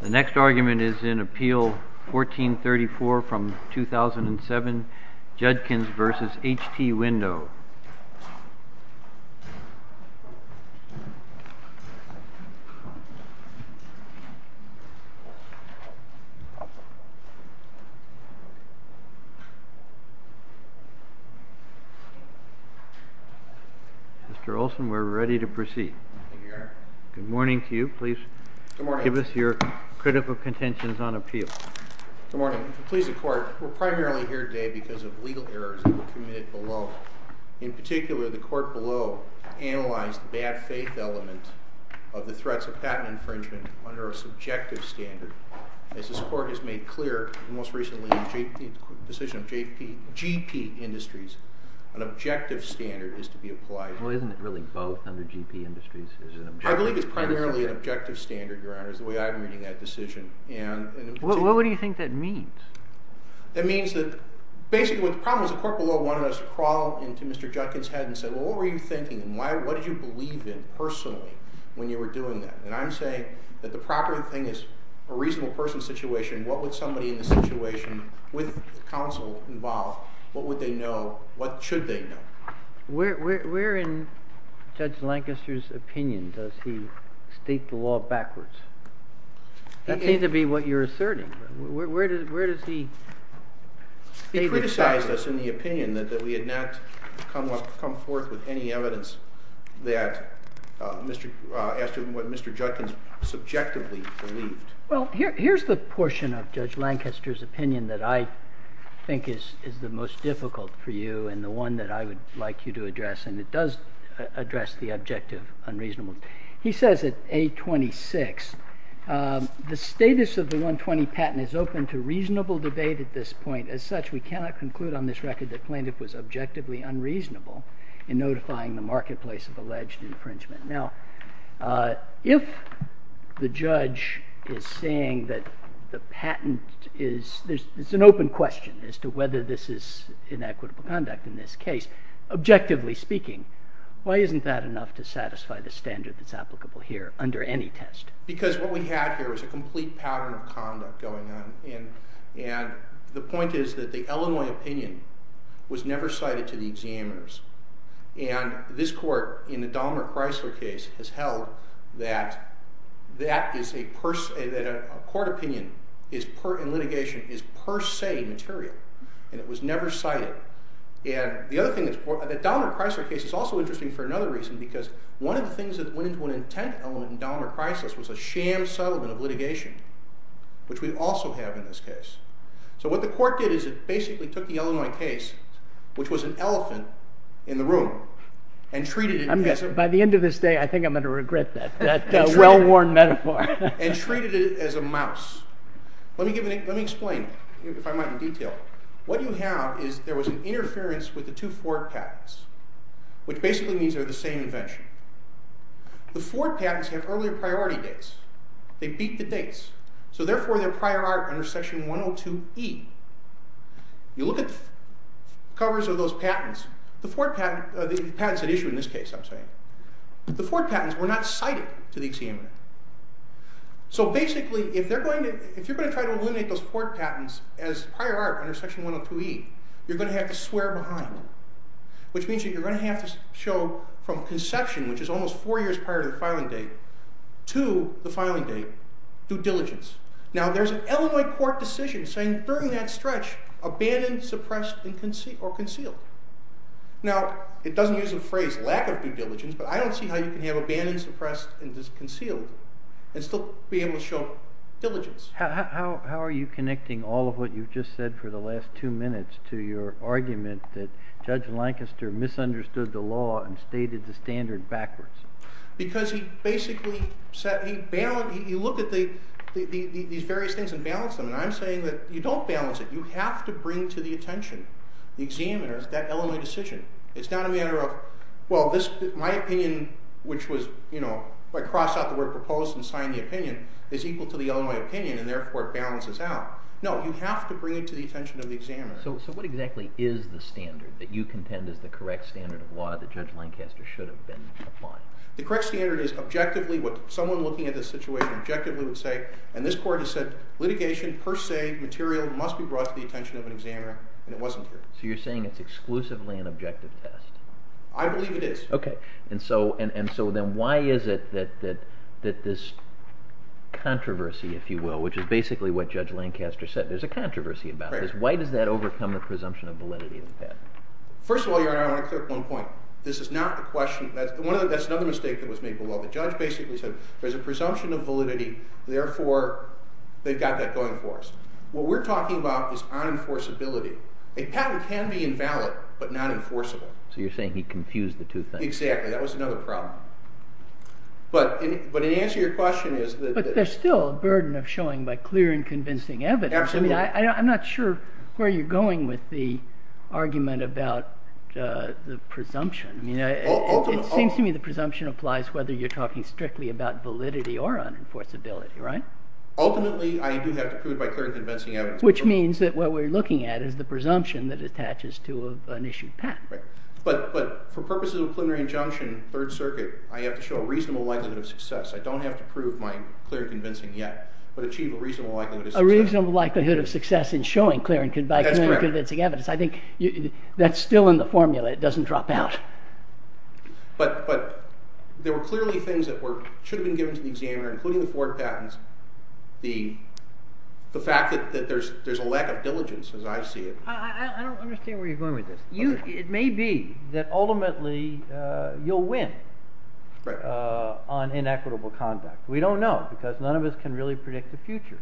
The next argument is in Appeal 1434 from 2007, Judkins v. HT Window. Mr. Olson, we're ready to proceed. Good morning to you. Please give us your critical contentions on Appeal. Good morning. Please, the Court, we're primarily here today because of legal errors that were committed below. In particular, the Court below analyzed the bad faith element of the threats of patent infringement under a subjective standard. As this Court has made clear most recently in the decision of GP Industries, an objective standard is to be applied. Well, isn't it really both under GP Industries? I believe it's primarily an objective standard, Your Honor, is the way I'm reading that decision. What do you think that means? That means that basically what the problem is the Court below wanted us to crawl into Mr. Judkins' head and say, well, what were you thinking and what did you believe in personally when you were doing that? And I'm saying that the proper thing is a reasonable person's situation. What would somebody in the situation with counsel involved, what would they know? What should they know? Where in Judge Lancaster's opinion does he state the law backwards? That seems to be what you're asserting. Where does he state it backwards? He criticized us in the opinion that we had not come forth with any evidence that Mr. Judkins subjectively believed. Well, here's the portion of Judge Lancaster's opinion that I think is the most difficult for you and the one that I would like you to address, and it does address the objective unreasonable. He says at A26, the status of the 120 patent is open to reasonable debate at this point. As such, we cannot conclude on this record that plaintiff was objectively unreasonable in notifying the marketplace of alleged infringement. Now, if the judge is saying that the patent is an open question as to whether this is inequitable conduct in this case, objectively speaking, why isn't that enough to satisfy the standard that's applicable here under any test? Because what we have here is a complete pattern of conduct going on, and the point is that the Illinois opinion was never cited to the examiners, and this court in the Dahmer-Chrysler case has held that a court opinion in litigation is per se material, and it was never cited. The Dahmer-Chrysler case is also interesting for another reason, because one of the things that went into an intent element in Dahmer-Chrysler's was a sham settlement of litigation, which we also have in this case. So what the court did is it basically took the Illinois case, which was an elephant in the room, and treated it as a mouse. Let me explain, if I might, in detail. What you have is there was an interference with the two Ford patents, which basically means they're the same invention. The Ford patents have earlier priority dates. They beat the dates. So therefore, they're prior art under section 102E. You look at the covers of those patents, the Ford patents at issue in this case, I'm saying, the Ford patents were not cited to the examiner. So basically, if you're going to try to eliminate those Ford patents as prior art under section 102E, you're going to have to swear behind them, which means that you're going to have to show from conception, which is almost four years prior to the filing date, to the filing date, due diligence. Now, there's an Illinois court decision saying during that stretch, abandon, suppress, or conceal. Now, it doesn't use the phrase lack of due diligence, but I don't see how you can have abandon, suppress, and conceal and still be able to show diligence. How are you connecting all of what you've just said for the last two minutes to your argument that Judge Lancaster misunderstood the law and stated the standard backwards? Because he basically said he balanced. He looked at these various things and balanced them. And I'm saying that you don't balance it. You have to bring to the attention, the examiner, that Illinois decision. It's not a matter of, well, my opinion, which was, you know, if I cross out the word proposed and sign the opinion, is equal to the Illinois opinion, and therefore it balances out. No, you have to bring it to the attention of the examiner. So what exactly is the standard that you contend is the correct standard of law that Judge Lancaster should have been applying? The correct standard is objectively what someone looking at this situation objectively would say, and this court has said litigation per se, material, must be brought to the attention of an examiner, and it wasn't here. So you're saying it's exclusively an objective test? I believe it is. Okay. And so then why is it that this controversy, if you will, which is basically what Judge Lancaster said, there's a controversy about this, why does that overcome the presumption of validity of the patent? First of all, Your Honor, I want to clear up one point. This is not a question. That's another mistake that was made by the law. The judge basically said there's a presumption of validity, therefore they've got that going for us. What we're talking about is unenforceability. A patent can be invalid but not enforceable. So you're saying he confused the two things. Exactly. That was another problem. But in answer to your question is that... There's still a burden of showing by clear and convincing evidence. Absolutely. I'm not sure where you're going with the argument about the presumption. It seems to me the presumption applies whether you're talking strictly about validity or unenforceability, right? Ultimately I do have to prove it by clear and convincing evidence. Which means that what we're looking at is the presumption that attaches to an issued patent. But for purposes of a preliminary injunction, Third Circuit, I have to show a reasonable likelihood of success. I don't have to prove my clear and convincing yet, but achieve a reasonable likelihood of success. A reasonable likelihood of success in showing clear and convincing evidence. That's correct. I think that's still in the formula. It doesn't drop out. But there were clearly things that should have been given to the examiner, including the Ford patents. The fact that there's a lack of diligence as I see it. I don't understand where you're going with this. It may be that ultimately you'll win on inequitable conduct. We don't know because none of us can really predict the future.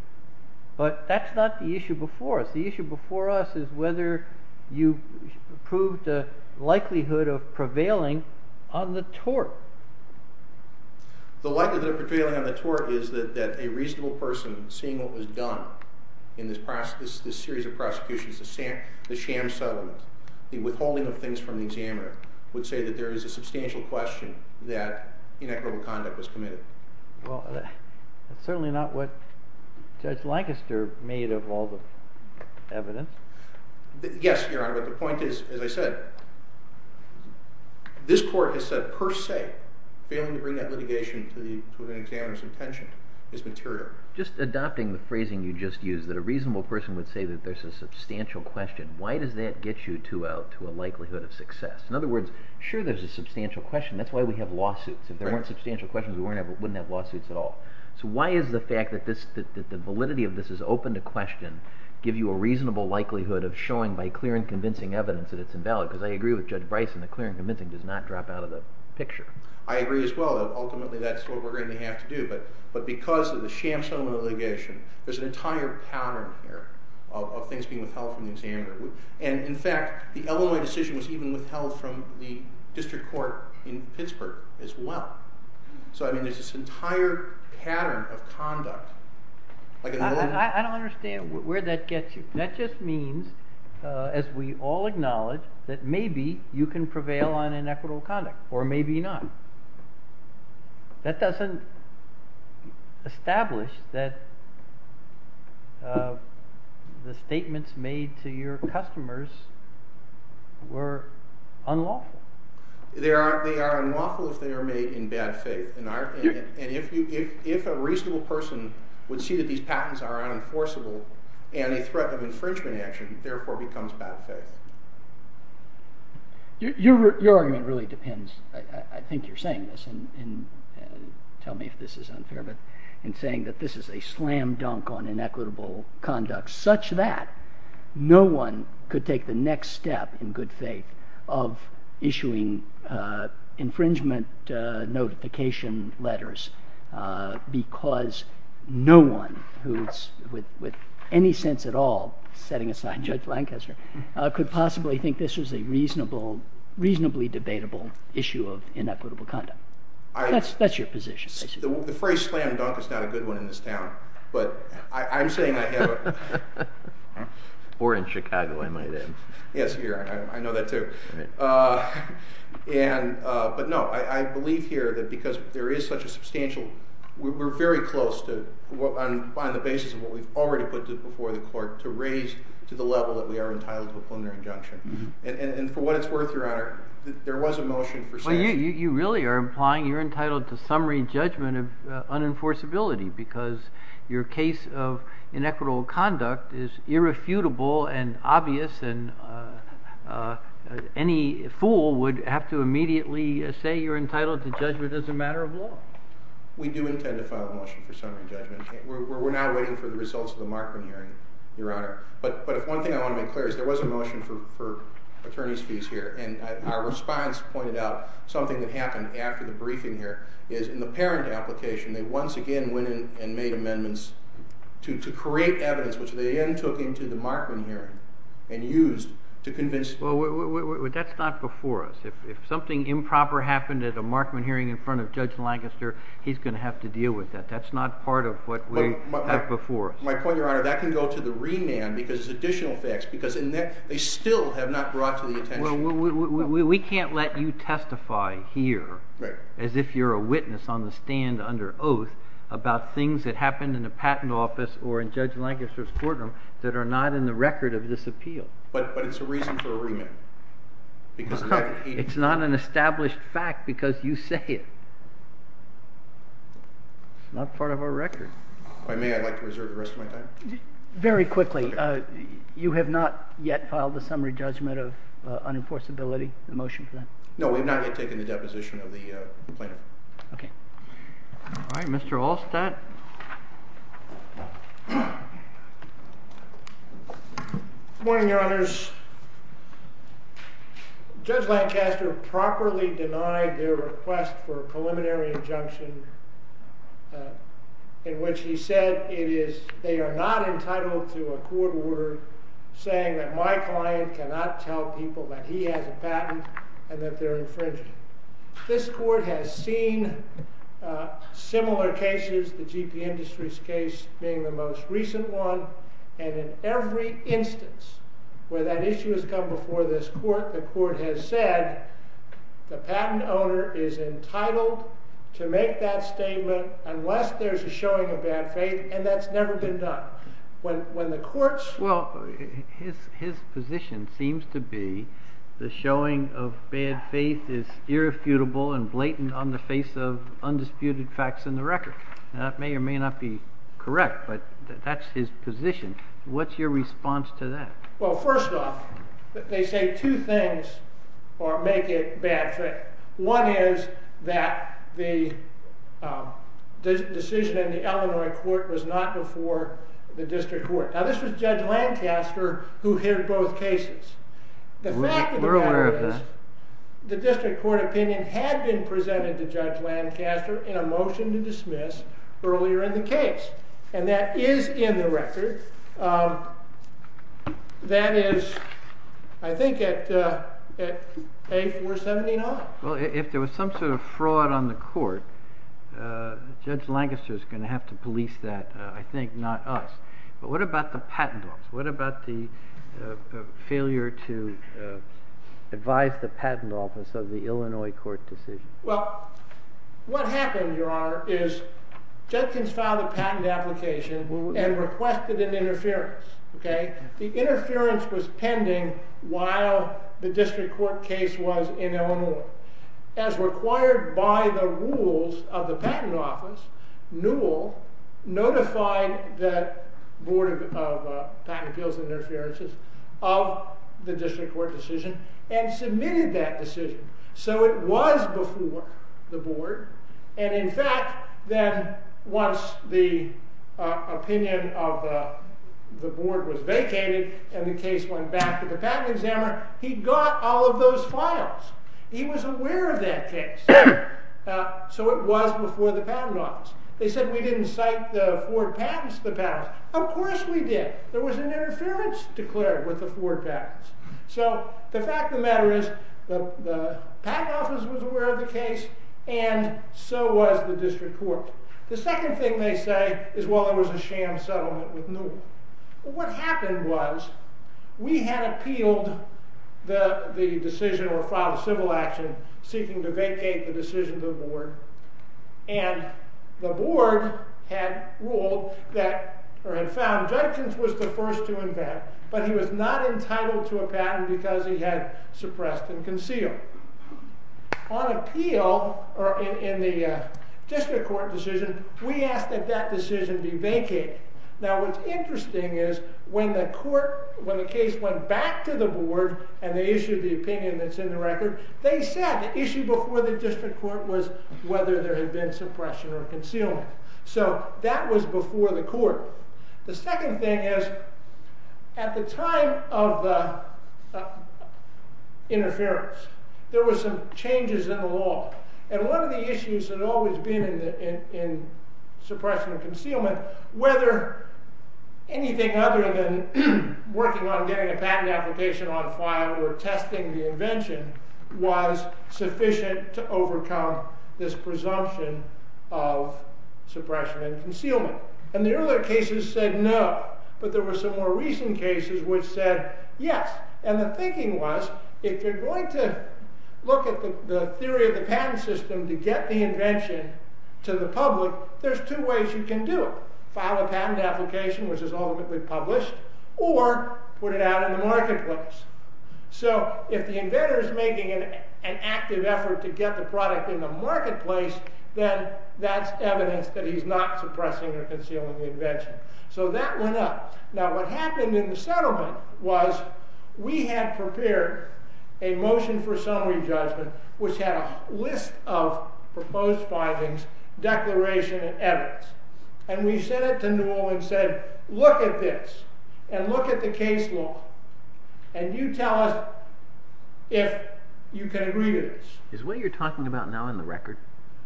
But that's not the issue before us. The issue before us is whether you prove the likelihood of prevailing on the tort. The likelihood of prevailing on the tort is that a reasonable person, seeing what was done in this series of prosecutions, the sham settlement, the withholding of things from the examiner, would say that there is a substantial question that inequitable conduct was committed. Well, that's certainly not what Judge Lancaster made of all the evidence. Yes, Your Honor. But the point is, as I said, this court has said per se failing to bring that litigation to an examiner's intention is material. Just adopting the phrasing you just used, that a reasonable person would say that there's a substantial question. Why does that get you to a likelihood of success? In other words, sure there's a substantial question. That's why we have lawsuits. If there weren't substantial questions, we wouldn't have lawsuits at all. So why is the fact that the validity of this is open to question give you a reasonable likelihood of showing by clear and convincing evidence that it's invalid? Because I agree with Judge Bryson that clear and convincing does not drop out of the picture. I agree as well. Ultimately that's what we're going to have to do. But because of the sham settlement litigation, there's an entire pattern here of things being withheld from the examiner. And, in fact, the Illinois decision was even withheld from the district court in Pittsburgh as well. So, I mean, there's this entire pattern of conduct. I don't understand where that gets you. That just means, as we all acknowledge, that maybe you can prevail on inequitable conduct or maybe not. That doesn't establish that the statements made to your customers were unlawful. They are unlawful if they are made in bad faith. And if a reasonable person would see that these patents are unenforceable and a threat of infringement action, it therefore becomes bad faith. Your argument really depends. I think you're saying this. And tell me if this is unfair. But in saying that this is a slam dunk on inequitable conduct such that no one could take the next step in good faith of issuing infringement notification letters because no one who's with any sense at all, setting aside Judge Lancaster, could possibly think this was a reasonably debatable issue of inequitable conduct. That's your position. The phrase slam dunk is not a good one in this town. But I'm saying I have a... Or in Chicago, I might add. Yes, here. I know that too. But no, I believe here that because there is such a substantial... We're very close to, on the basis of what we've already put before the court, to raise to the level that we are entitled to a preliminary injunction. And for what it's worth, Your Honor, there was a motion for saying... Any fool would have to immediately say you're entitled to judgment as a matter of law. We do intend to file a motion for summary judgment. We're now waiting for the results of the Markman hearing, Your Honor. But if one thing I want to make clear is there was a motion for attorney's fees here. And our response pointed out something that happened after the briefing here is in the parent application, they once again went in and made amendments to create evidence, which they then took into the Markman hearing and used to convince... Well, that's not before us. If something improper happened at a Markman hearing in front of Judge Lancaster, he's going to have to deal with that. That's not part of what we have before us. My point, Your Honor, that can go to the remand because it's additional facts. Because they still have not brought to the attention... Well, we can't let you testify here as if you're a witness on the stand under oath about things that happened in the patent office or in Judge Lancaster's courtroom that are not in the record of this appeal. But it's a reason for a remand. It's not an established fact because you say it. It's not part of our record. If I may, I'd like to reserve the rest of my time. Very quickly. You have not yet filed a summary judgment of unenforceability, a motion for that? No, we've not yet taken the deposition of the plaintiff. Okay. All right, Mr. Allstadt. Good morning, Your Honors. Judge Lancaster properly denied their request for a preliminary injunction in which he said they are not entitled to a court order saying that my client cannot tell people that he has a patent and that they're infringing. This court has seen similar cases, the GP Industries case being the most recent one. And in every instance where that issue has come before this court, the court has said the patent owner is entitled to make that statement unless there's a showing of bad faith. And that's never been done. Well, his position seems to be the showing of bad faith is irrefutable and blatant on the face of undisputed facts in the record. That may or may not be correct, but that's his position. What's your response to that? Well, first off, they say two things make it bad faith. One is that the decision in the Illinois court was not before the district court. Now, this was Judge Lancaster who heard both cases. We're aware of that. The fact of the matter is the district court opinion had been presented to Judge Lancaster in a motion to dismiss earlier in the case. And that is in the record. That is, I think, at page 479. Well, if there was some sort of fraud on the court, Judge Lancaster is going to have to police that, I think, not us. But what about the patent office? What about the failure to advise the patent office of the Illinois court decision? Well, what happened, Your Honor, is Judges filed a patent application and requested an interference. The interference was pending while the district court case was in Illinois. As required by the rules of the patent office, Newell notified the Board of Patent Appeals and Interferences of the district court decision and submitted that decision. So it was before the board. And, in fact, then once the opinion of the board was vacated and the case went back to the patent examiner, he got all of those files. He was aware of that case. So it was before the patent office. They said we didn't cite the Ford patents to the patent office. Of course we did. There was an interference declared with the Ford patents. So the fact of the matter is the patent office was aware of the case and so was the district court. The second thing they say is, well, it was a sham settlement with Newell. What happened was we had appealed the decision or filed a civil action seeking to vacate the decision to the board. And the board had ruled that, or had found, Judkins was the first to invent. But he was not entitled to a patent because he had suppressed and concealed. On appeal, or in the district court decision, we asked that that decision be vacated. Now what's interesting is when the court, when the case went back to the board and they issued the opinion that's in the record, they said the issue before the district court was whether there had been suppression or concealment. So that was before the court. The second thing is, at the time of the interference, there were some changes in the law. And one of the issues that had always been in suppression and concealment, was whether anything other than working on getting a patent application on file or testing the invention was sufficient to overcome this presumption of suppression and concealment. And the earlier cases said no. But there were some more recent cases which said yes. And the thinking was, if you're going to look at the theory of the patent system to get the invention to the public, there's two ways you can do it. File a patent application, which is ultimately published, or put it out in the marketplace. So if the inventor is making an active effort to get the product in the marketplace, then that's evidence that he's not suppressing or concealing the invention. So that went up. Now what happened in the settlement was we had prepared a motion for summary judgment which had a list of proposed findings, declaration, and evidence. And we sent it to Newell and said, look at this. And look at the case law. And you tell us if you can agree to this. Is what you're talking about now in the record?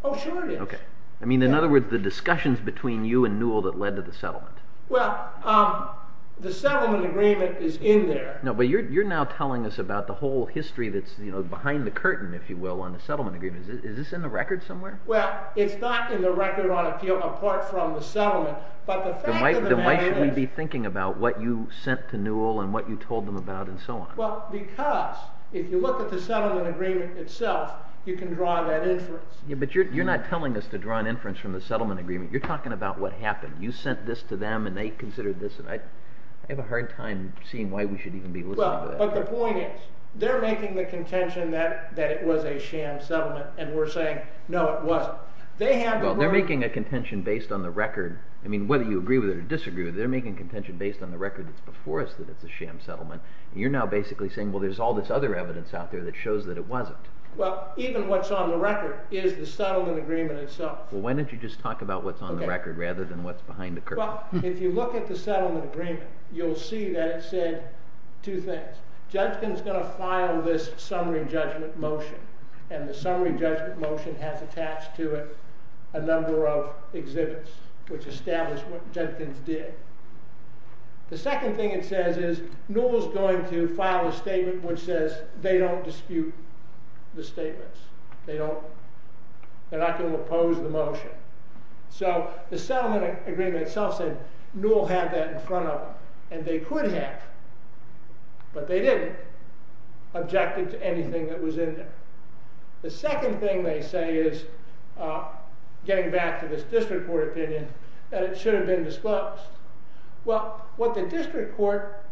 Oh, sure it is. Okay. I mean, in other words, the discussions between you and Newell that led to the settlement. Well, the settlement agreement is in there. You're now telling us about the whole history that's behind the curtain, if you will, on the settlement agreement. Is this in the record somewhere? Well, it's not in the record on appeal apart from the settlement. Then why should we be thinking about what you sent to Newell and what you told them about and so on? Because if you look at the settlement agreement itself, you can draw that inference. But you're not telling us to draw an inference from the settlement agreement. You're talking about what happened. You sent this to them and they considered this. I have a hard time seeing why we should even be listening to that. But the point is they're making the contention that it was a sham settlement. And we're saying, no, it wasn't. They're making a contention based on the record. I mean, whether you agree with it or disagree with it, they're making a contention based on the record that's before us that it's a sham settlement. You're now basically saying, well, there's all this other evidence out there that shows that it wasn't. Well, even what's on the record is the settlement agreement itself. Well, why don't you just talk about what's on the record rather than what's behind the curtain? Well, if you look at the settlement agreement, you'll see that it said two things. Judkins is going to file this summary judgment motion. And the summary judgment motion has attached to it a number of exhibits, which establish what Judkins did. The second thing it says is Newell's going to file a statement which says they don't dispute the statements. They're not going to oppose the motion. So the settlement agreement itself said Newell had that in front of him. And they could have. But they didn't object it to anything that was in there. The second thing they say is, getting back to this district court opinion, that it should have been disclosed. Well, what the district court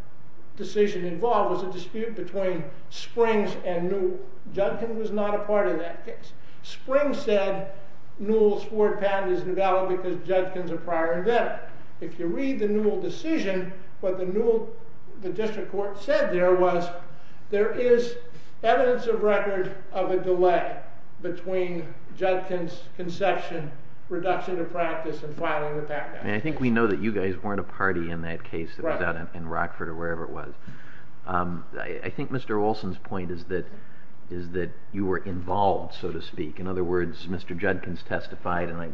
decision involved was a dispute between Springs and Newell. Judkins was not a part of that case. Springs said Newell's court patent is invalid because Judkins is a prior inventor. If you read the Newell decision, what the district court said there was, there is evidence of record of a delay between Judkins' conception, reduction of practice, and filing the patent. And I think we know that you guys weren't a party in that case that was out in Rockford or wherever it was. I think Mr. Olson's point is that you were involved, so to speak. In other words, Mr. Judkins testified. And I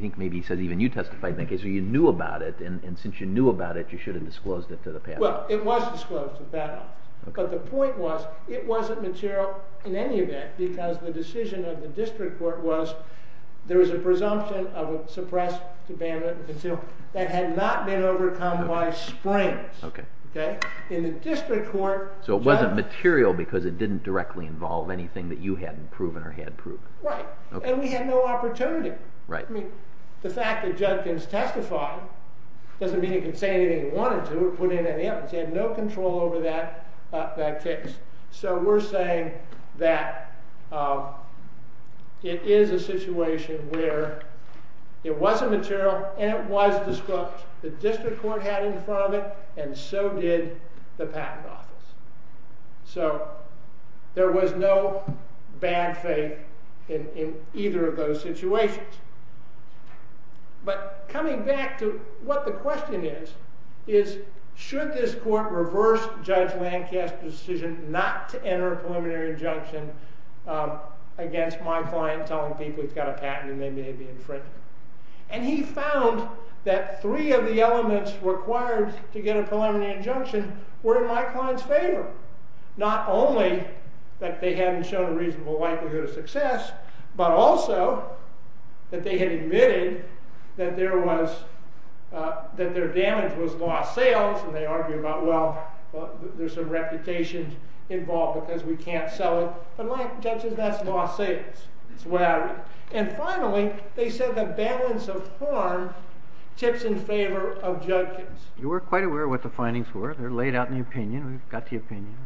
think maybe he said even you testified in that case. So you knew about it. And since you knew about it, you should have disclosed it to the patent. Well, it was disclosed to the patent. But the point was, it wasn't material in any event because the decision of the district court was, there was a presumption of a suppressed debate that had not been overcome by Springs. In the district court... So it wasn't material because it didn't directly involve anything that you hadn't proven or he had proven. Right. And we had no opportunity. The fact that Judkins testified doesn't mean he could say anything he wanted to or put in any evidence. He had no control over that case. So we're saying that it is a situation where it was a material and it was disproved. The district court had in front of it and so did the patent office. So there was no bad faith in either of those situations. But coming back to what the question is, is should this court reverse Judge Lancaster's decision not to enter a preliminary injunction against my client telling people he's got a patent and maybe they'd be infringed. And he found that three of the elements required to get a preliminary injunction were in my client's favor. Not only that they hadn't shown a reasonable likelihood of success, but also that they had admitted that there was, that their damage was lost sales. And they argued about, well, there's some reputation involved because we can't sell it. But like Judges, that's lost sales. And finally, they said the balance of harm tips in favor of Judges. You were quite aware what the findings were. They're laid out in the opinion. We've got the opinion.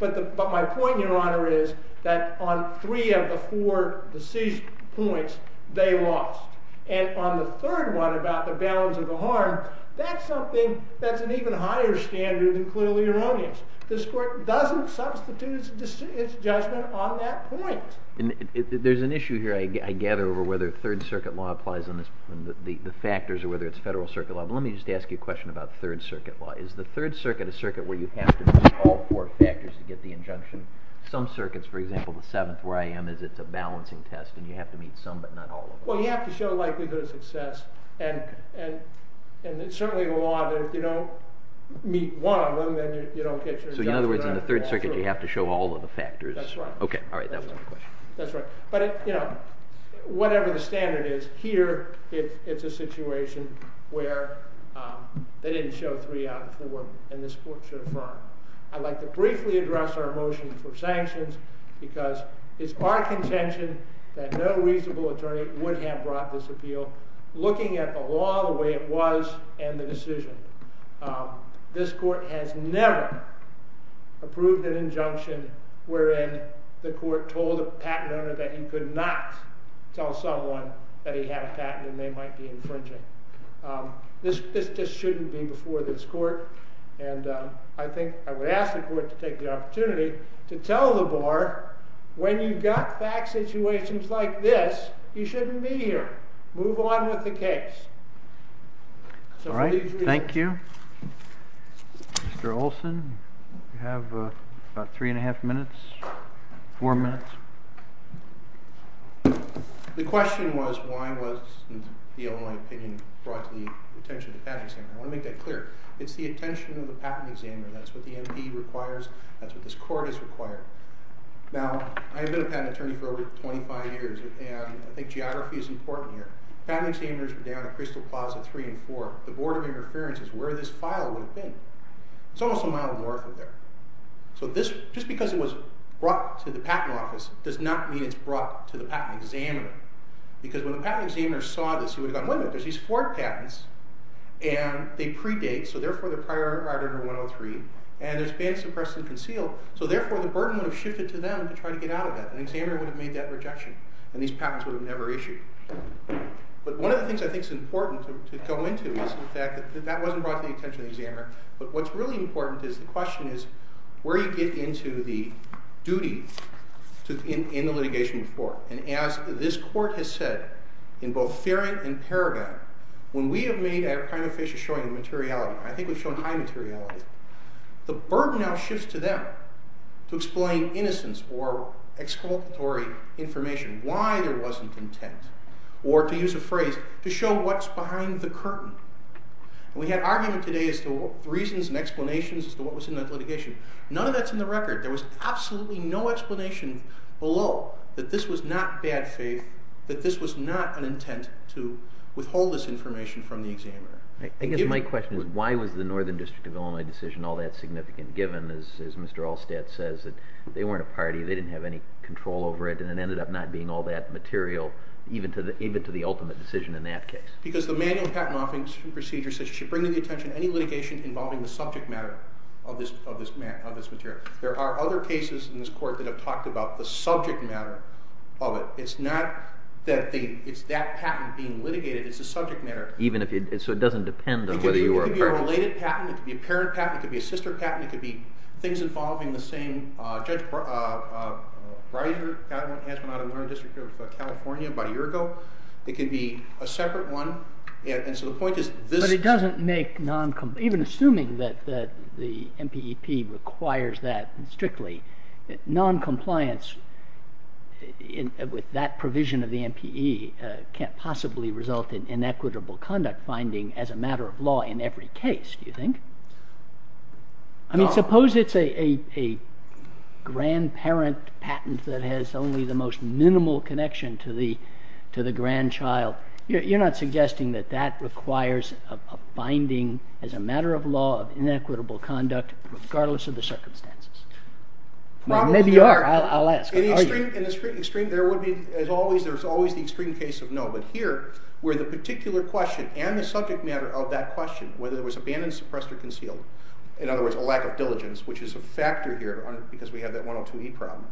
But my point, Your Honor, is that on three of the four decision points, they lost. And on the third one about the balance of the harm, that's something that's an even higher standard than clearly erroneous. This court doesn't substitute its judgment on that point. There's an issue here, I gather, over whether Third Circuit law applies on the factors or whether it's Federal Circuit law. But let me just ask you a question about Third Circuit law. Is the Third Circuit a circuit where you have to meet all four factors to get the injunction? Some circuits, for example, the seventh where I am, is it's a balancing test and you have to meet some but not all of them. Well, you have to show likelihood of success. And it's certainly a law that if you don't meet one of them, then you don't get your injunction. So in other words, in the Third Circuit, you have to show all of the factors. That's right. Okay, all right, that was my question. That's right. But, you know, whatever the standard is, here it's a situation where they didn't show three out of four and this court should affirm. I'd like to briefly address our motion for sanctions because it's our contention that no reasonable attorney would have brought this appeal looking at the law the way it was and the decision. This court has never approved an injunction wherein the court told a patent owner that he could not tell someone that he had a patent and they might be infringing. This just shouldn't be before this court. And I think I would ask the court to take the opportunity to tell the bar when you've got back situations like this, you shouldn't be here. Move on with the case. All right, thank you. Mr. Olson, you have about three and a half minutes, four minutes. The question was why wasn't the only opinion brought to the attention of the patent examiner. I want to make that clear. It's the attention of the patent examiner. That's what the MP requires. That's what this court has required. Now, I've been a patent attorney for over 25 years and I think geography is important here. Patent examiners were down at Crystal Plaza 3 and 4. The Board of Interference is where this file would have been. It's almost a mile north of there. So just because it was brought to the patent office does not mean it's brought to the patent examiner. Because when the patent examiner saw this, he would have gone, wait a minute, there's these four patents and they predate, so therefore they're prior to Article 103, and there's been suppressed and concealed, so therefore the burden would have shifted to them to try to get out of that. An examiner would have made that rejection and these patents would have never issued. But one of the things I think is important to go into is the fact that that wasn't brought to the attention of the examiner, but what's really important is the question is where you get into the duty in the litigation before. And as this court has said in both Ferrant and Paragon, when we have made a prima facie showing the materiality, I think we've shown high materiality, the burden now shifts to them to explain innocence or exculpatory information, why there wasn't intent, or to use a phrase, to show what's behind the curtain. And we had argument today as to reasons and explanations as to what was in that litigation. None of that's in the record. There was absolutely no explanation below that this was not bad faith, that this was not an intent to withhold this information from the examiner. I guess my question is why was the Northern District of Illinois decision all that significant, given, as Mr. Allstadt says, that they weren't a party, they didn't have any control over it, and it ended up not being all that material even to the ultimate decision in that case? Because the manual patent offing procedure says you should bring to the attention any litigation involving the subject matter of this material. There are other cases in this court that have talked about the subject matter of it. It's not that it's that patent being litigated. It's the subject matter. So it doesn't depend on whether you were a participant. It could be a related patent. It could be a parent patent. It could be a sister patent. It could be things involving the same judge, Reiser, has one out of the Northern District of California about a year ago. It could be a separate one. And so the point is this— But it doesn't make non—even assuming that the MPEP requires that strictly, noncompliance with that provision of the MPE can't possibly result in inequitable conduct finding as a matter of law in every case, do you think? I mean, suppose it's a grandparent patent that has only the most minimal connection to the grandchild. You're not suggesting that that requires a finding as a matter of law of inequitable conduct regardless of the circumstances? Maybe you are. I'll ask. Are you? In the extreme, there would be—as always, there's always the extreme case of no. But here, where the particular question and the subject matter of that question, whether it was abandoned, suppressed, or concealed, in other words, a lack of diligence, which is a factor here because we have that 102E problem,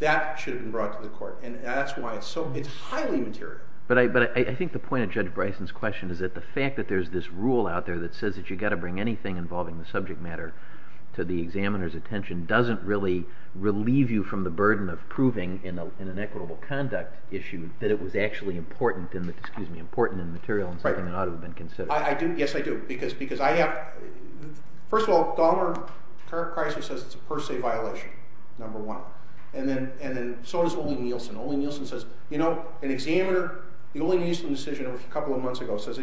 that should have been brought to the court. And that's why it's so—it's highly material. But I think the point of Judge Bryson's question is that the fact that there's this rule out there that says that you've got to bring anything involving the subject matter to the examiner's attention doesn't really relieve you from the burden of proving in an inequitable conduct issue that it was actually important in the material and something that ought to have been considered. I do. Yes, I do. Because I have—first of all, Dahmer, current crisis says it's a per se violation, number one. And then so does Olli Nielsen. Olli Nielsen says, you know, an examiner—the Olli Nielsen decision a couple of months ago says—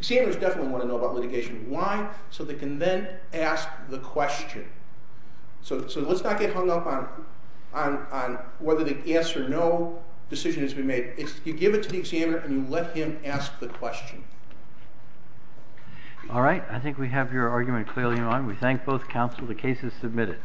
examiners definitely want to know about litigation. Why? So they can then ask the question. So let's not get hung up on whether the yes or no decision has been made. You give it to the examiner and you let him ask the question. All right. I think we have your argument clearly in line. We thank both counsel. The case is submitted.